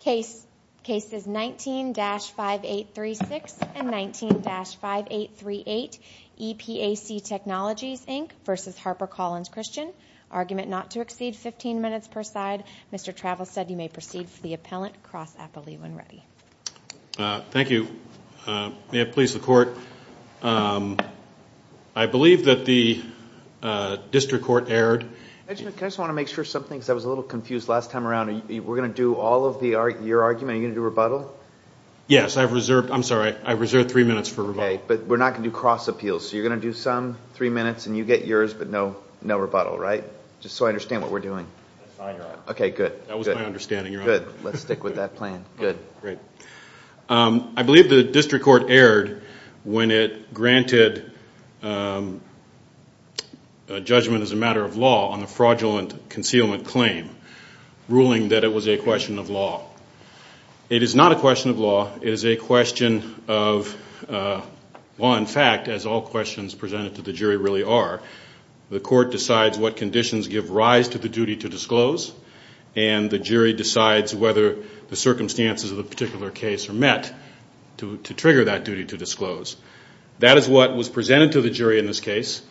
Case is 19-5836 and 19-5838 EPAC Technologies Inc v. Harper Collins Christian. Argument not to exceed 15 minutes per side. Mr. Travels said you may proceed for the appellant. Cross appellee when ready. Thank you. May it please the court. I believe that the district court erred. I just want to make sure something, because I was a little confused last time around. We're going to do all of your argument, are you going to do rebuttal? Yes, I've reserved, I'm sorry, I've reserved three minutes for rebuttal. Okay, but we're not going to do cross appeals. So you're going to do some, three minutes, and you get yours, but no rebuttal, right? Just so I understand what we're doing. That's fine, Your Honor. Okay, good. That was my understanding, Your Honor. Good. Let's stick with that plan. Good. I believe the district court erred when it granted judgment as a matter of law on the fraudulent concealment claim, ruling that it was a question of law. It is not a question of law. It is a question of law and fact, as all questions presented to the jury really are. The court decides what conditions give rise to the duty to disclose, and the jury decides whether the circumstances of the particular case are met to trigger that duty to disclose. That is what was presented to the jury in this case.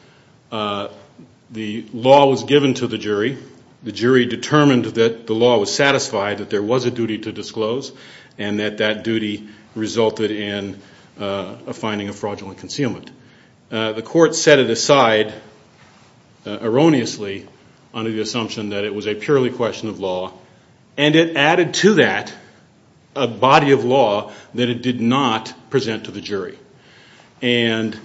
The law was given to the jury. The jury determined that the law was satisfied, that there was a duty to disclose, and that that duty resulted in a finding of fraudulent concealment. The court set it aside erroneously under the assumption that it was a purely question of law, and it added to that a body of law that it did not present to the jury. And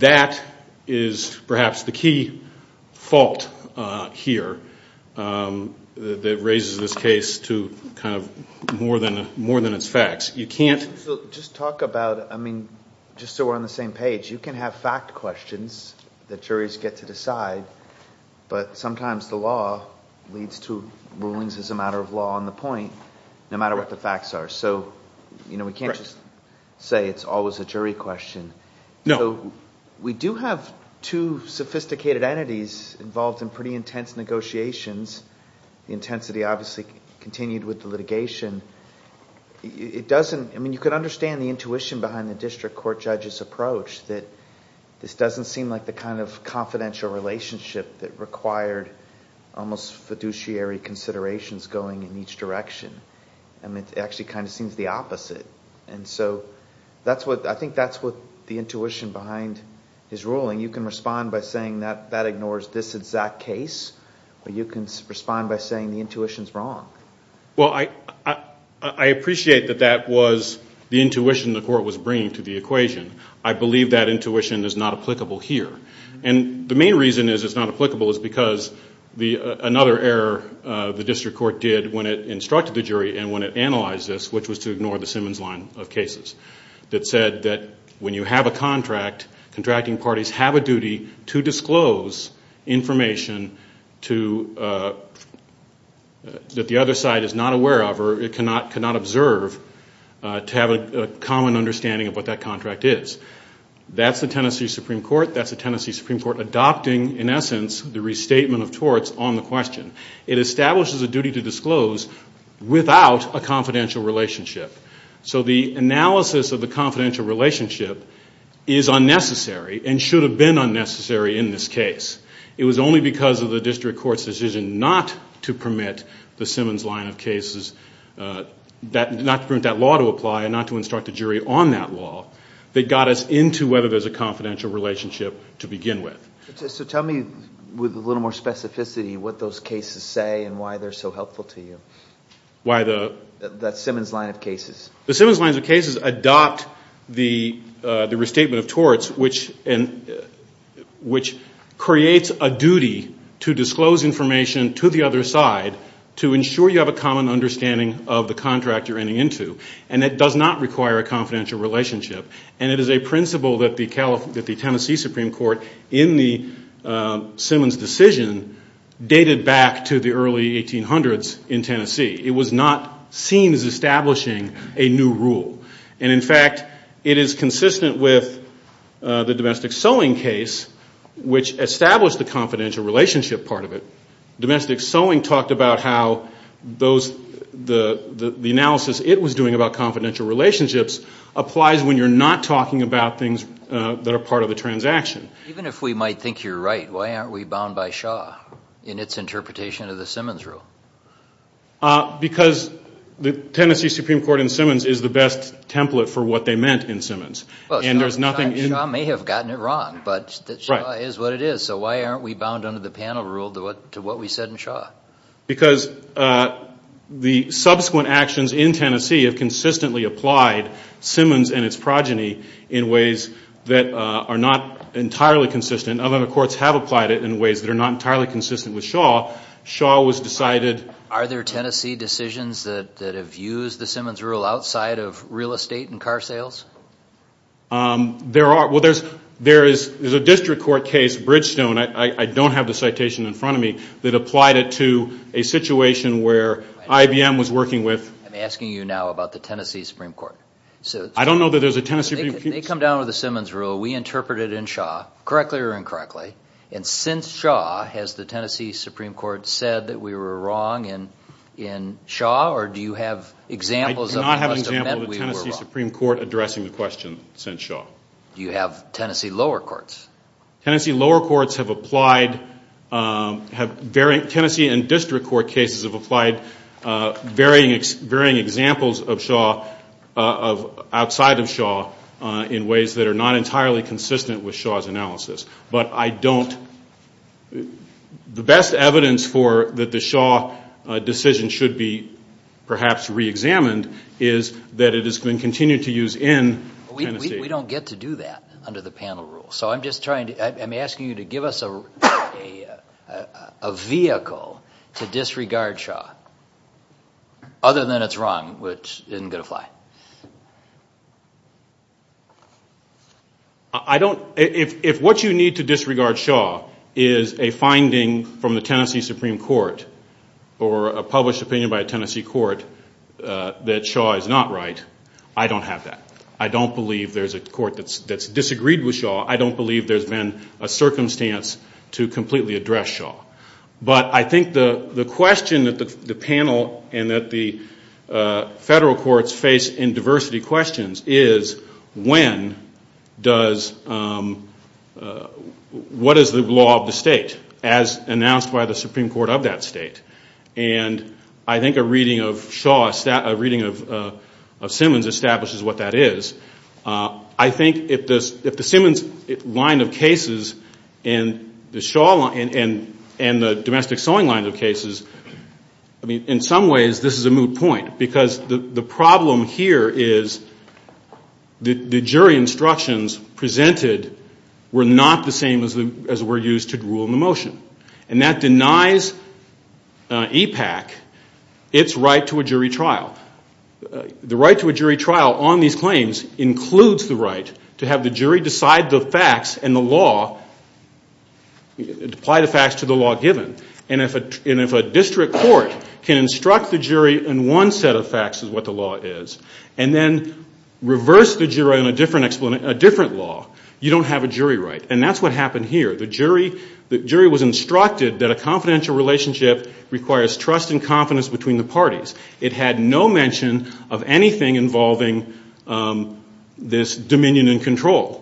that is perhaps the key fault here that raises this case to kind of more than its facts. You can't just talk about it. I mean, just so we're on the same page, you can have fact questions that juries get to decide, but sometimes the law leads to rulings as a matter of law on the point, no matter what the facts are. So we can't just say it's always a jury question. So we do have two sophisticated entities involved in pretty intense negotiations. The intensity obviously continued with the litigation. It doesn't... I mean, you can understand the intuition behind the district court judge's approach, that this doesn't seem like the kind of confidential relationship that required almost fiduciary considerations going in each direction. I mean, it actually kind of seems the opposite. And so that's what... I think that's what the intuition behind his ruling. You can respond by saying that that ignores this exact case, or you can respond by saying the intuition is wrong. Well, I appreciate that that was the intuition the court was bringing to the equation. I believe that intuition is not applicable here. And the main reason it's not applicable is because another error the district court did when it instructed the jury and when it analyzed this, which was to ignore the Simmons line of cases, that said that when you have a contract, contracting parties have a duty to disclose information to... that the other side is not aware of or cannot observe to have a common understanding of what that contract is. That's the Tennessee Supreme Court. That's the Tennessee Supreme Court adopting, in essence, the restatement of torts on the question. It establishes a duty to disclose without a confidential relationship. So the analysis of the confidential relationship is unnecessary and should have been unnecessary in this case. It was only because of the district court's decision not to permit the Simmons line of cases... not to permit that law to apply and not to instruct a jury on that law, that got us into whether there's a confidential relationship to begin with. So tell me with a little more specificity what those cases say and why they're so helpful to you. Why the... That Simmons line of cases. The Simmons line of cases adopt the restatement of torts, which creates a duty to disclose information to the other side... to ensure you have a common understanding of the contract you're ending into. And, it does not require a confidential relationship. And, it is a principle that the Tennessee Supreme Court, in the Simmons decision... dated back to the early 1800's in Tennessee. It was not seen as establishing a new rule. And, in fact, it is consistent with the domestic sewing case... which established the confidential relationship part of it. Domestic sewing talked about how those... the analysis it was doing about confidential relationships... applies when you're not talking about things that are part of the transaction. Even if we might think you're right, why aren't we bound by Shaw... in its interpretation of the Simmons rule? Because the Tennessee Supreme Court in Simmons is the best template for what they meant in Simmons. And, there's nothing... Well, Shaw may have gotten it wrong, but Shaw is what it is. So, why aren't we bound under the panel rule to what we said in Shaw? Because the subsequent actions in Tennessee have consistently applied Simmons and its progeny... in ways that are not entirely consistent. Other courts have applied it in ways that are not entirely consistent with Shaw. Shaw was decided... Are there Tennessee decisions that have used the Simmons rule outside of real estate and car sales? There are. Well, there's a district court case, Bridgestone... I don't have the citation in front of me... that applied it to a situation where IBM was working with... I'm asking you now about the Tennessee Supreme Court. I don't know that there's a Tennessee Supreme Court... They come down with the Simmons rule. We interpret it in Shaw, correctly or incorrectly. And, since Shaw, has the Tennessee Supreme Court said that we were wrong in Shaw or do you have examples of... I do not have an example of the Tennessee Supreme Court addressing the question since Shaw. Do you have Tennessee lower courts? Tennessee lower courts have applied... Tennessee and district court cases have applied varying examples of Shaw... outside of Shaw in ways that are not entirely consistent with Shaw's analysis. But, I don't... The best evidence for that the Shaw decision should be perhaps reexamined... is that it has been continued to use in Tennessee. We don't get to do that under the panel rule. So, I'm just trying to... I'm asking you to give us a vehicle to disregard Shaw... other than it's wrong, which isn't going to apply. I don't... If what you need to disregard Shaw is a finding from the Tennessee Supreme Court... or a published opinion by a Tennessee court that Shaw is not right, I don't have that. I don't believe there's a court that's disagreed with Shaw. I don't believe there's been a circumstance to completely address Shaw. But, I think the question that the panel and that the federal courts face in diversity questions is... When does... What is the law of the state as announced by the Supreme Court of that state? And, I think a reading of Shaw... A reading of Simmons establishes what that is. I think if the Simmons line of cases and the Shaw line... and the domestic sewing line of cases... I mean, in some ways, this is a moot point because the problem here is... the jury instructions presented were not the same as were used to rule in the motion. And, that denies EPAC its right to a jury trial. The right to a jury trial on these claims includes the right to have the jury decide the facts and the law... apply the facts to the law given. And, if a district court can instruct the jury in one set of facts of what the law is... and then, reverse the jury on a different law, you don't have a jury right. And, that's what happened here. The jury was instructed that a confidential relationship requires trust and confidence between the parties. It had no mention of anything involving this dominion and control.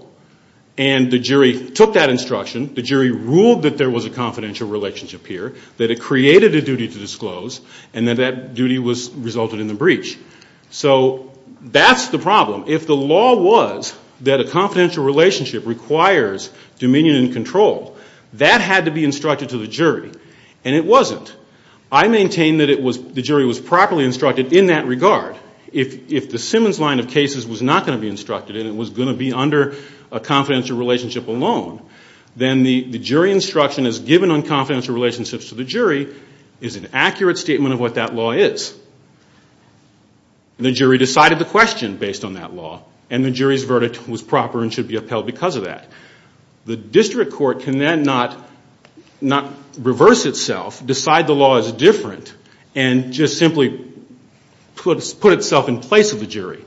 And, the jury took that instruction. The jury ruled that there was a confidential relationship here. That it created a duty to disclose and that that duty resulted in the breach. So, that's the problem. If the law was that a confidential relationship requires dominion and control... that had to be instructed to the jury. And, it wasn't. I maintain that the jury was properly instructed in that regard. If the Simmons line of cases was not going to be instructed... and it was going to be under a confidential relationship alone... then the jury instruction as given on confidential relationships to the jury... is an accurate statement of what that law is. And, the jury decided the question based on that law. And, the jury's verdict was proper and should be upheld because of that. The district court can then not reverse itself, decide the law is different... and just simply put itself in place of the jury.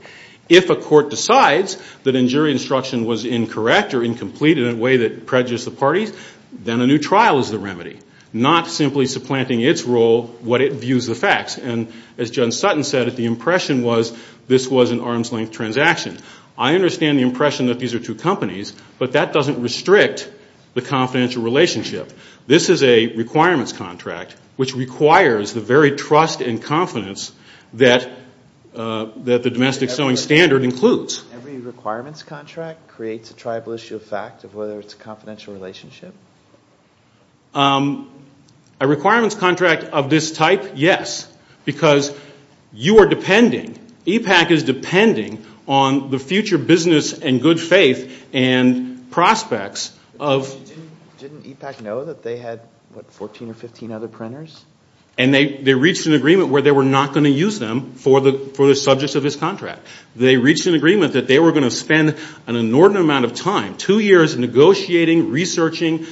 If a court decides that a jury instruction was incorrect or incomplete... in a way that prejudice the parties, then a new trial is the remedy. Not simply supplanting its role, what it views the facts. And, as John Sutton said that the impression was, this was an arm's length transaction. I understand the impression that these are two companies. But, that doesn't restrict the confidential relationship. This is a requirements contract, which requires the very trust and confidence... Every requirements contract creates a tribal issue of fact of whether it's a confidential relationship? A requirements contract of this type, yes. Because, you are depending. EPAC is depending on the future business and good faith and prospects of... Didn't EPAC know that they had, what, 14 or 15 other printers? And, they reached an agreement where they were not going to use them for the subjects of this contract. They reached an agreement that they were going to spend an inordinate amount of time... two years negotiating, researching,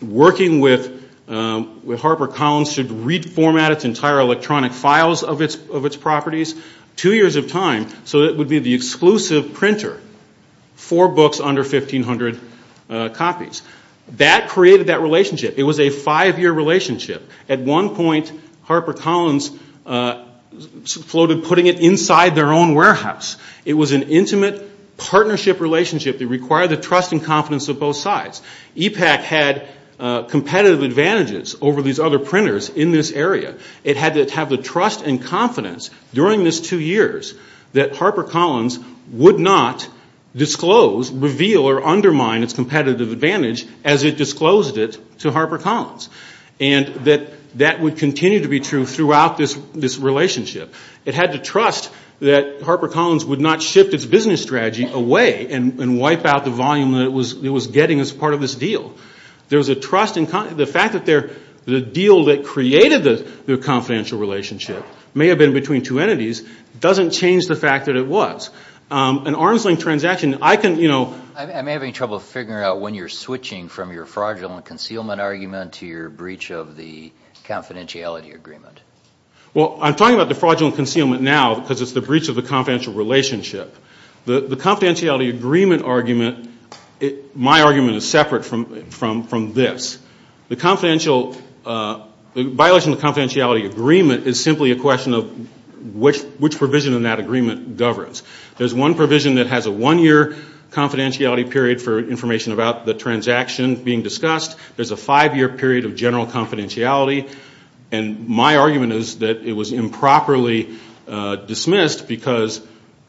working with... with HarperCollins to reformat its entire electronic files of its properties. Two years of time, so it would be the exclusive printer. Four books under 1,500 copies. That created that relationship. It was a five-year relationship. At one point, HarperCollins floated putting it inside their own warehouse. It was an intimate partnership relationship that required the trust and confidence of both sides. EPAC had competitive advantages over these other printers in this area. It had to have the trust and confidence during these two years... that HarperCollins would not disclose, reveal or undermine its competitive advantage... to HarperCollins. And, that would continue to be true throughout this relationship. It had to trust that HarperCollins would not shift its business strategy away... and wipe out the volume that it was getting as part of this deal. There was a trust in... The fact that the deal that created the confidential relationship... may have been between two entities, doesn't change the fact that it was. An arm's length transaction, I can, you know... I'm having trouble figuring out when you're switching from your fraudulent concealment argument... to your breach of the confidentiality agreement. Well, I'm talking about the fraudulent concealment now... because it's the breach of the confidential relationship. The confidentiality agreement argument... My argument is separate from this. The confidential... The violation of the confidentiality agreement is simply a question of... which provision in that agreement governs. There's one provision that has a one-year confidentiality period... for information about the transaction being discussed. There's a five-year period of general confidentiality. And, my argument is that it was improperly dismissed... because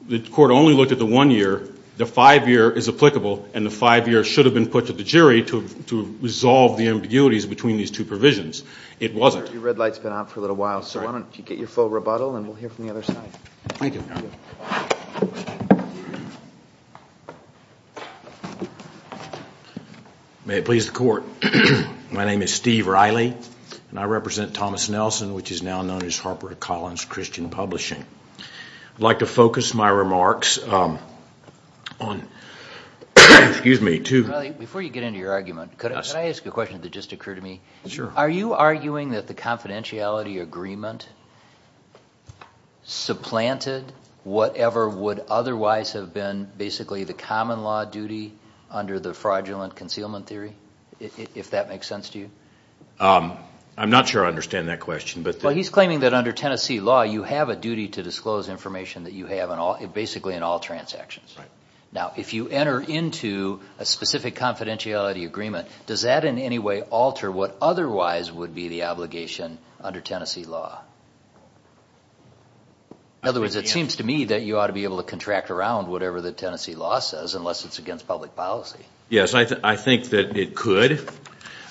the court only looked at the one year. The five-year is applicable. And, the five-year should have been put to the jury... to resolve the ambiguities between these two provisions. It wasn't. Your red light's been out for a little while. So, why don't you get your full rebuttal and we'll hear from the other side. Thank you. Thank you. May it please the court. My name is Steve Riley. And, I represent Thomas Nelson... which is now known as Harper Collins Christian Publishing. I'd like to focus my remarks on... Excuse me, to... Riley, before you get into your argument, could I ask you a question that just occurred to me? Sure. Are you arguing that the confidentiality agreement... supplanted whatever would otherwise have been basically the common law duty... under the fraudulent concealment theory? If that makes sense to you? I'm not sure I understand that question, but... Well, he's claiming that under Tennessee law... you have a duty to disclose information that you have in all... basically in all transactions. Right. Now, if you enter into a specific confidentiality agreement... does that in any way alter what otherwise would be the obligation under Tennessee law? In other words, it seems to me that you ought to be able to contract around... whatever the Tennessee law says, unless it's against public policy. Yes, I think that it could.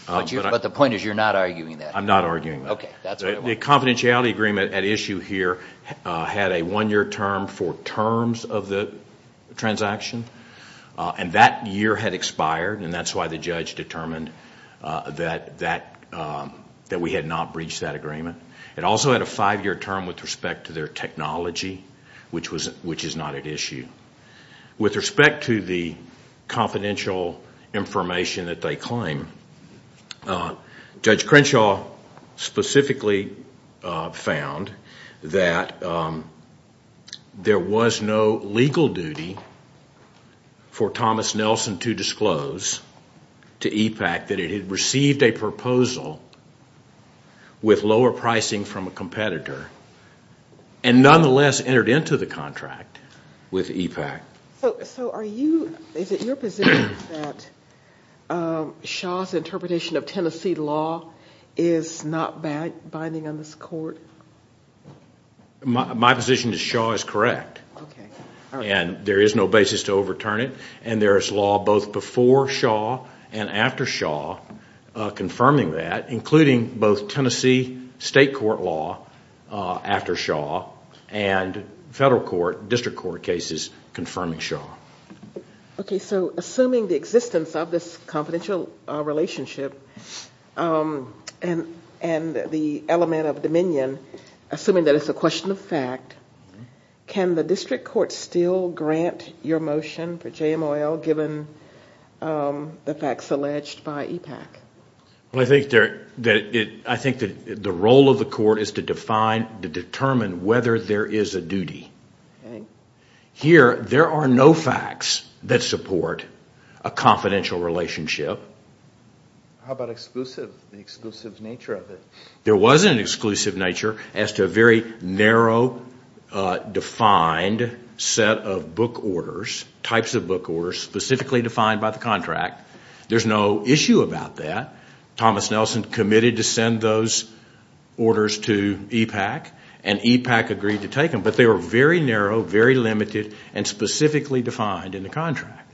But, the point is you're not arguing that. I'm not arguing that. Okay, that's what I want to know. The confidentiality agreement at issue here... had a one-year term for terms of the transaction. And, that year had expired. And, that's why the judge determined that... that we had not breached that agreement. It also had a five-year term with respect to their technology... which was... which is not at issue. With respect to the confidential information that they claim... Judge Crenshaw specifically found that... there was no legal duty for Thomas Nelson to disclose... to EPAC, that it had received a proposal... with lower pricing from a competitor. And, nonetheless entered into the contract with EPAC. So, are you... Is it your position that Shaw's interpretation of Tennessee law... is not binding on this court? My position is Shaw is correct. Okay. And, there is no basis to overturn it. And, there is law both before Shaw and after Shaw confirming that... including both Tennessee state court law after Shaw... and federal court, district court cases confirming Shaw. Okay. So, assuming the existence of this confidential relationship... and the element of dominion... assuming that it's a question of fact... Can the district court still grant your motion for JMOL... given the facts alleged by EPAC? Well, I think there... I think that the role of the court is to define... to determine whether there is a duty. Okay. Here, there are no facts that support a confidential relationship. How about exclusive, the exclusive nature of it? There was an exclusive nature as to a very narrow, defined set of book orders... types of book orders, specifically defined by the contract. There's no issue about that. Thomas Nelson committed to send those orders to EPAC... and EPAC agreed to take them. But, they were very narrow, very limited... and specifically defined in the contract.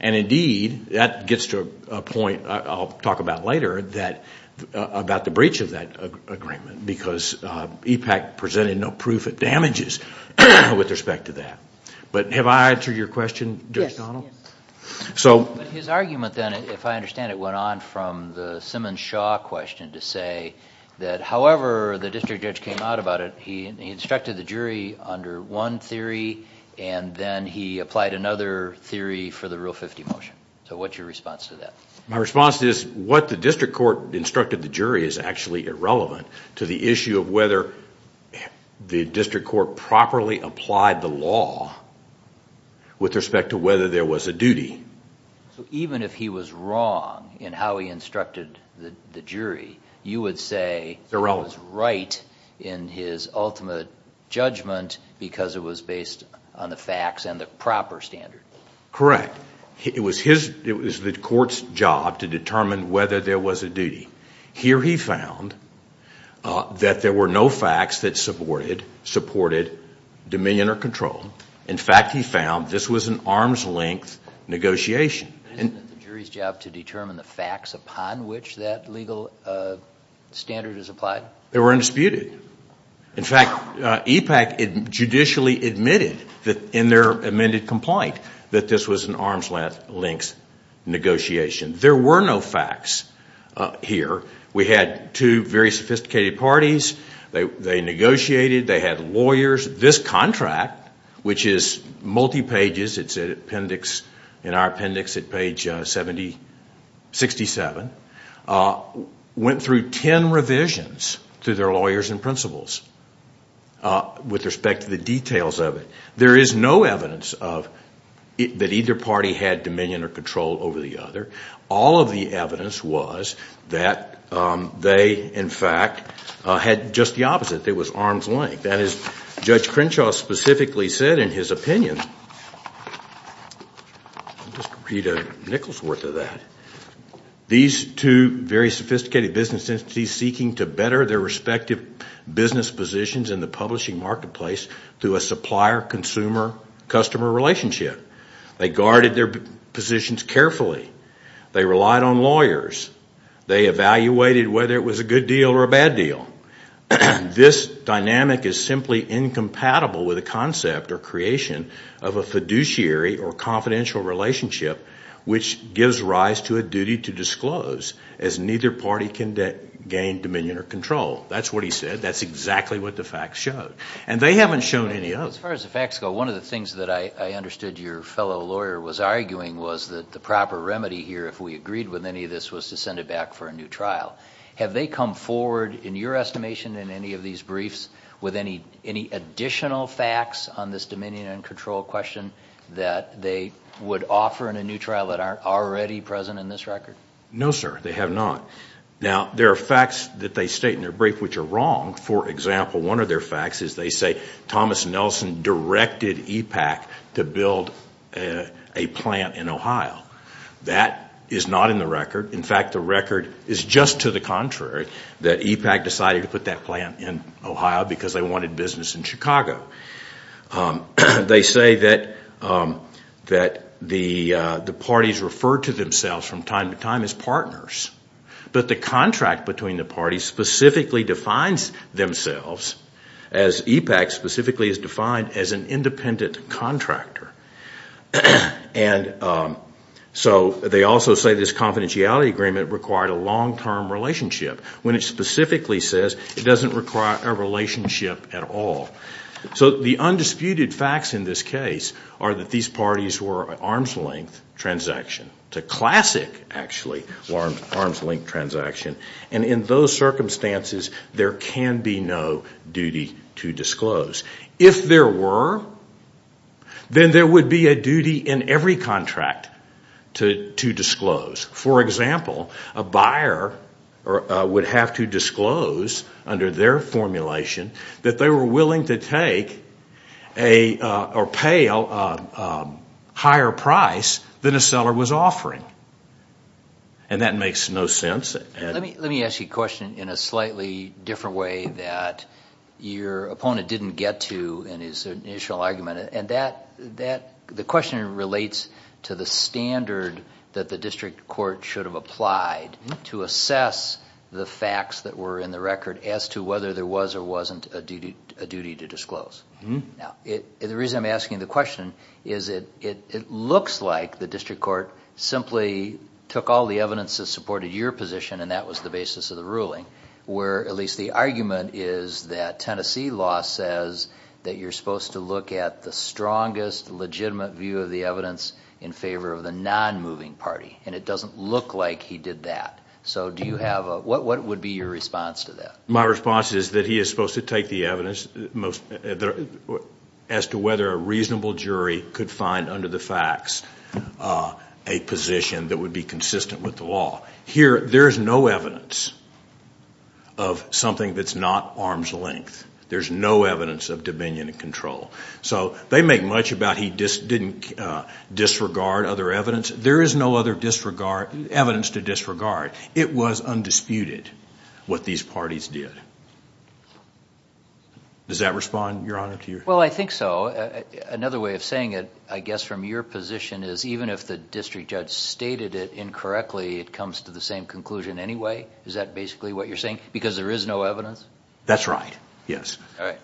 And, indeed, that gets to a point I'll talk about later... about the breach of that agreement... because EPAC presented no proof of damages... with respect to that. But, have I answered your question, Judge Donald? Yes. So... But, his argument then, if I understand it... went on from the Simmons-Shaw question to say... that however the district judge came out about it... he instructed the jury under one theory... and then he applied another theory for the Rule 50 motion. So, what's your response to that? My response is... what the district court instructed the jury is actually irrelevant... to the issue of whether the district court properly applied the law... with respect to whether there was a duty. So, even if he was wrong in how he instructed the jury... you would say... Irrelevant. It was right in his ultimate judgment... because it was based on the facts and the proper standard. Correct. It was his... It was the court's job to determine whether there was a duty. Here he found... that there were no facts that supported... supported dominion or control. In fact, he found this was an arm's length negotiation. Isn't it the jury's job to determine the facts upon which that legal standard is applied? They were undisputed. that this was an arm's length negotiation. There were no facts here. We had two very sophisticated parties. They negotiated. They had lawyers. This contract, which is multi-pages... it's an appendix... in our appendix at page 70... 67... went through ten revisions to their lawyers and principals... with respect to the details of it. There is no evidence of... that either party had dominion or control over the other. All of the evidence was... that they, in fact, had just the opposite. It was arm's length. That is, Judge Crenshaw specifically said in his opinion... I'll just read a nickel's worth of that. These two very sophisticated business entities seeking to better their respective... business positions in the publishing marketplace... through a supplier-consumer-customer relationship. They guarded their positions carefully. They relied on lawyers. They evaluated whether it was a good deal or a bad deal. This dynamic is simply incompatible with a concept or creation... of a fiduciary or confidential relationship... which gives rise to a duty to disclose... as neither party can gain dominion or control. That's what he said. That's exactly what the facts showed. And, they haven't shown any other. As far as the facts go, one of the things that I understood your fellow lawyer was arguing... was that the proper remedy here, if we agreed with any of this... was to send it back for a new trial. Have they come forward, in your estimation, in any of these briefs... with any additional facts on this dominion and control question... that they would offer in a new trial that aren't already present in this record? No, sir. They have not. Now, there are facts that they state in their brief, which are wrong. For example, one of their facts is they say Thomas Nelson directed EPAC... to build a plant in Ohio. That is not in the record. In fact, the record is just to the contrary... that EPAC decided to put that plant in Ohio, because they wanted business in Chicago. They say that the parties referred to themselves from time to time as partners. But, the contract between the parties specifically defines themselves... as EPAC specifically is defined as an independent contractor. And, so they also say this confidentiality agreement required a long-term relationship... when it specifically says it doesn't require a relationship at all. So, the undisputed facts in this case are that these parties were an arm's length transaction. It's a classic, actually, arm's length transaction. And, in those circumstances, there can be no duty to disclose. If there were, then there would be a duty in every contract to disclose. For example, a buyer would have to disclose under their formulation... And, that makes no sense. Let me ask you a question in a slightly different way that your opponent didn't get to... in his initial argument. And, that... the question relates to the standard that the District Court should have applied... to assess the facts that were in the record, as to whether there was or wasn't a duty to disclose. Now, the reason I'm asking the question is that it looks like the District Court... simply took all the evidence that supported your position and that was the basis of the ruling. Where, at least the argument is that Tennessee law says that you're supposed to look at the strongest... legitimate view of the evidence, in favor of the non-moving party. And, it doesn't look like he did that. So, do you have a... what would be your response to that? My response is that he is supposed to take the evidence... as to whether a reasonable jury could find under the facts... a position that would be consistent with the law. Here, there's no evidence of something that's not arm's length. There's no evidence of dominion and control. So, they make much about he just didn't disregard other evidence. There is no other disregard... evidence to disregard. It was undisputed, what these parties did. Does that respond, Your Honor, to your... Well, I think so. Another way of saying it, I guess from your position is... even if the District Judge stated it incorrectly, it comes to the same conclusion anyway. Is that basically what you're saying? Because there is no evidence? That's right. Yes. All right.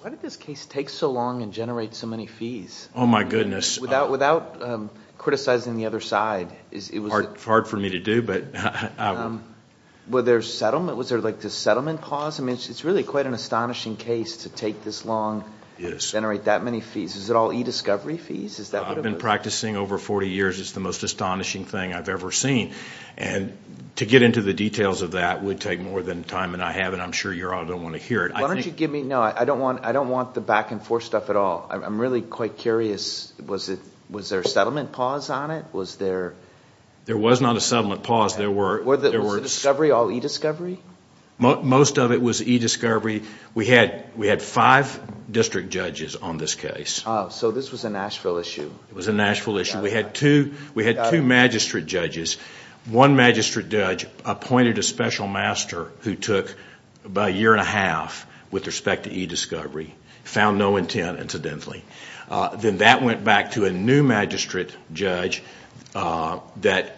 Why did this case take so long and generate so many fees? Oh, my goodness. Without criticizing the other side. It's hard for me to do, but... Was there a settlement? Was there a settlement pause? I mean, it's really quite an astonishing case to take this long and generate that many fees. Is it all e-discovery fees? I've been practicing over 40 years. It's the most astonishing thing I've ever seen. And to get into the details of that would take more than the time that I have, and I'm sure you all don't want to hear it. Why don't you give me... No, I don't want the back and forth stuff at all. I'm really quite curious. Was there a settlement pause on it? Was there... There was not a settlement pause. Was it discovery, all e-discovery? Most of it was e-discovery. We had five district judges on this case. Oh, so this was a Nashville issue. It was a Nashville issue. We had two magistrate judges. One magistrate judge appointed a special master who took about a year and a half with respect to e-discovery, found no intent, incidentally. Then that went back to a new magistrate judge that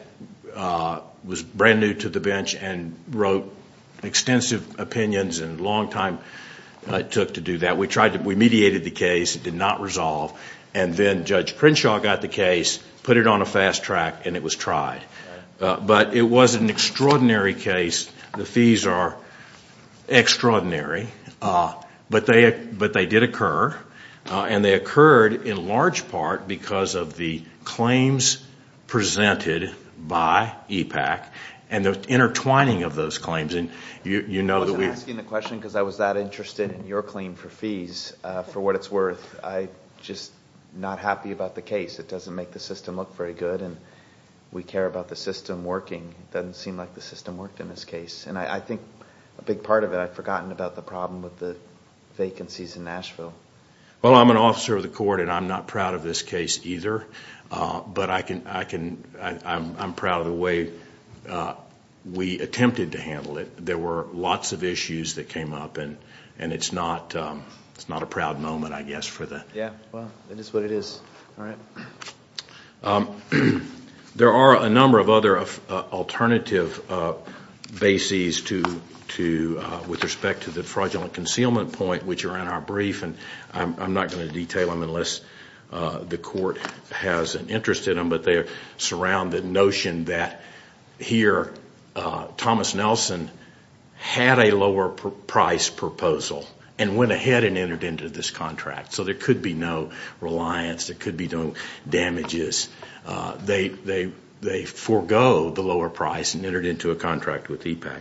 was brand new to the bench and wrote extensive opinions and a long time it took to do that. We mediated the case. It did not resolve. And then Judge Prinshaw got the case, put it on a fast track, and it was tried. But it was an extraordinary case. The fees are extraordinary. But they did occur. And they occurred in large part because of the claims presented by EPAC and the intertwining of those claims. I wasn't asking the question because I was that interested in your claim for fees, for what it's worth. I'm just not happy about the case. It doesn't make the system look very good. We care about the system working. It doesn't seem like the system worked in this case. I think a big part of it I've forgotten about the problem with the vacancies in Nashville. Well, I'm an officer of the court, and I'm not proud of this case either. But I'm proud of the way we attempted to handle it. There were lots of issues that came up, and it's not a proud moment, I guess, for the... Yeah, well, it is what it is. All right. There are a number of other alternative bases with respect to the fraudulent concealment point, which are in our brief, and I'm not going to detail them unless the court has an interest in them. But they surround the notion that here Thomas Nelson had a lower price proposal and went ahead and entered into this contract. So there could be no reliance. There could be no damages. They forego the lower price and entered into a contract with EPAC.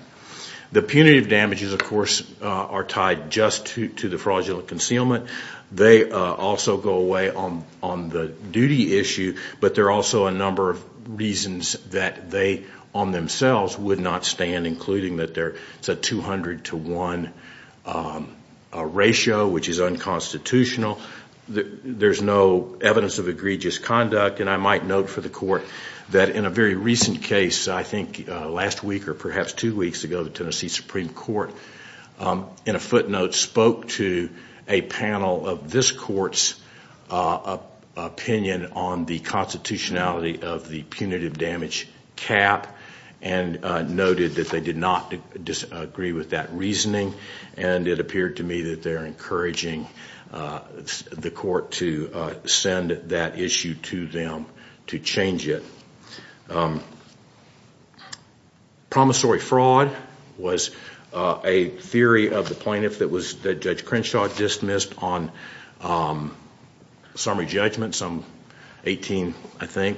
The punitive damages, of course, are tied just to the fraudulent concealment. They also go away on the duty issue, but there are also a number of reasons that they on themselves would not stand, including that there's a 200 to 1 ratio, which is unconstitutional. There's no evidence of egregious conduct, and I might note for the court that in a very recent case, I think last week or perhaps two weeks ago, the Tennessee Supreme Court, in a footnote, spoke to a panel of this court's opinion on the constitutionality of the punitive damage cap and noted that they did not disagree with that reasoning, and it appeared to me that they're encouraging the court to send that issue to them to change it. Promissory fraud was a theory of the plaintiff that Judge Crenshaw dismissed on summary judgment some 18, I think,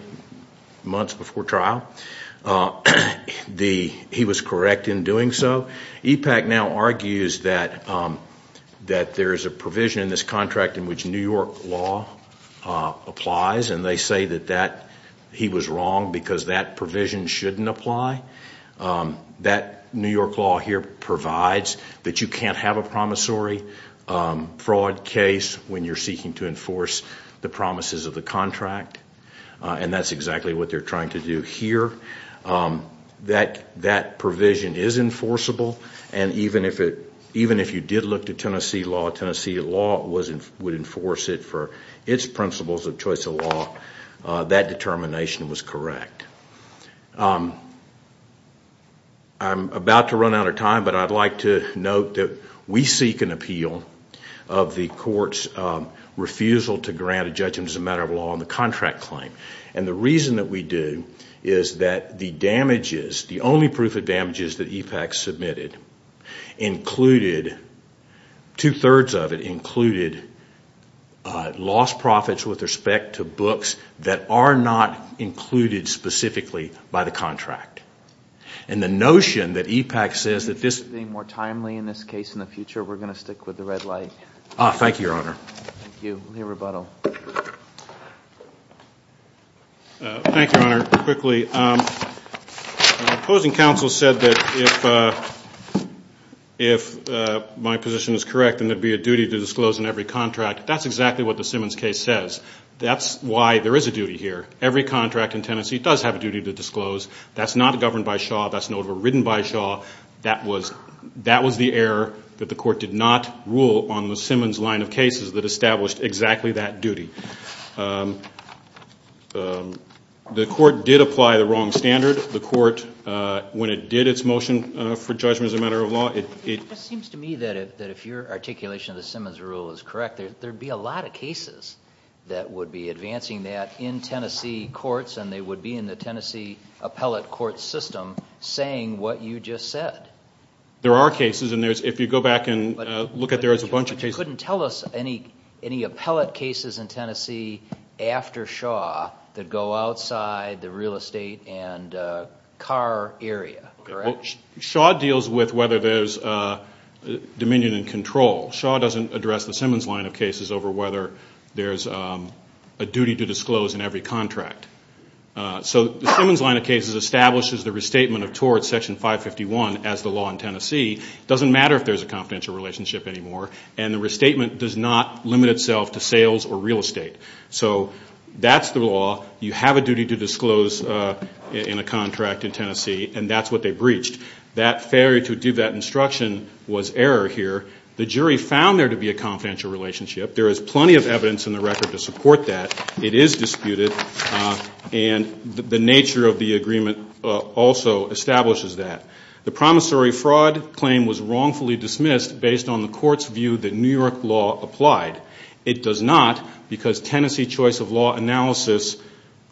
months before trial. He was correct in doing so. EPAC now argues that there is a provision in this contract in which New York law applies, and they say that he was wrong because that provision shouldn't apply. That New York law here provides that you can't have a promissory fraud case when you're seeking to enforce the promises of the contract, and that's exactly what they're trying to do here. That provision is enforceable, and even if you did look to Tennessee law, Tennessee law would enforce it for its principles of choice of law. That determination was correct. I'm about to run out of time, but I'd like to note that we seek an appeal of the court's refusal to grant a judgment as a matter of law on the contract claim, and the reason that we do is that the damages, the only proof of damages that EPAC submitted included, two-thirds of it included lost profits with respect to books that are not included specifically by the contract. And the notion that EPAC says that this Is there anything more timely in this case in the future? We're going to stick with the red light. Thank you, Your Honor. Thank you. Let me rebuttal. Thank you, Your Honor. Quickly, opposing counsel said that if my position is correct, then there would be a duty to disclose in every contract. That's exactly what the Simmons case says. That's why there is a duty here. Every contract in Tennessee does have a duty to disclose. That's not governed by Shaw. That's not overridden by Shaw. That was the error that the court did not rule on the Simmons line of cases that established exactly that duty. The court did apply the wrong standard. The court, when it did its motion for judgment as a matter of law, it It seems to me that if your articulation of the Simmons rule is correct, there would be a lot of cases that would be advancing that in Tennessee courts and they would be in the Tennessee appellate court system saying what you just said. There are cases, and if you go back and look at there, there's a bunch of cases. But you couldn't tell us any appellate cases in Tennessee after Shaw that go outside the real estate and car area, correct? Shaw deals with whether there's dominion and control. Shaw doesn't address the Simmons line of cases over whether there's a duty to disclose in every contract. So the Simmons line of cases establishes the restatement of torts, section 551, as the law in Tennessee. It doesn't matter if there's a confidential relationship anymore, and the restatement does not limit itself to sales or real estate. So that's the law. You have a duty to disclose in a contract in Tennessee, and that's what they breached. That failure to do that instruction was error here. The jury found there to be a confidential relationship. There is plenty of evidence in the record to support that. It is disputed, and the nature of the agreement also establishes that. The promissory fraud claim was wrongfully dismissed based on the court's view that New York law applied. It does not because Tennessee choice of law analysis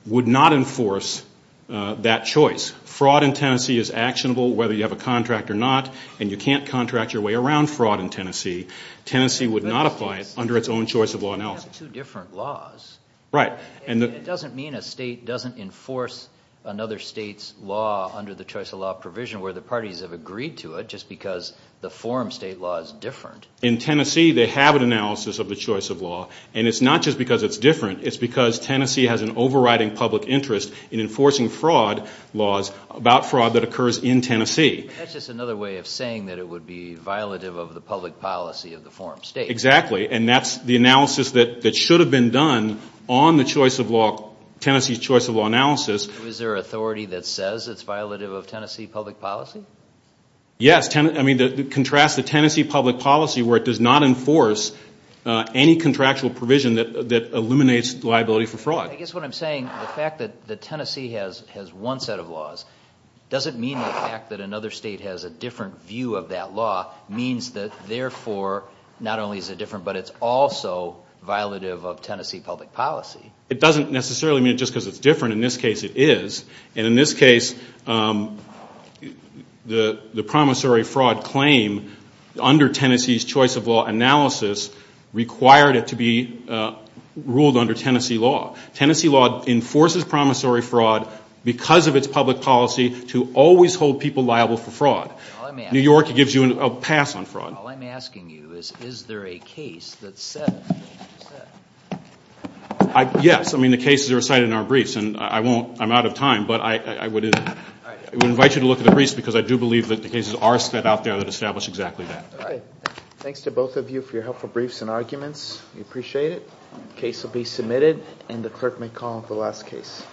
would not enforce that choice. Fraud in Tennessee is actionable whether you have a contract or not, and you can't contract your way around fraud in Tennessee. Tennessee would not apply it under its own choice of law analysis. But you have two different laws. Right. And it doesn't mean a state doesn't enforce another state's law under the choice of law provision where the parties have agreed to it just because the forum state law is different. In Tennessee, they have an analysis of the choice of law, and it's not just because it's different. It's because Tennessee has an overriding public interest in enforcing fraud laws about fraud that occurs in Tennessee. That's just another way of saying that it would be violative of the public policy of the forum state. Exactly, and that's the analysis that should have been done on Tennessee's choice of law analysis. Is there authority that says it's violative of Tennessee public policy? Yes. I mean, contrast the Tennessee public policy where it does not enforce any contractual provision that eliminates liability for fraud. I guess what I'm saying, the fact that Tennessee has one set of laws doesn't mean the fact that another state has a different view of that law means that, therefore, not only is it different, but it's also violative of Tennessee public policy. It doesn't necessarily mean just because it's different. In this case, it is. And in this case, the promissory fraud claim under Tennessee's choice of law analysis required it to be ruled under Tennessee law. Tennessee law enforces promissory fraud because of its public policy to always hold people liable for fraud. New York gives you a pass on fraud. All I'm asking you is, is there a case that says that? Yes. I mean, the cases are cited in our briefs, and I won't. I'm out of time, but I would invite you to look at the briefs because I do believe that the cases are set out there that establish exactly that. All right. Thanks to both of you for your helpful briefs and arguments. We appreciate it. The case will be submitted, and the clerk may call off the last case.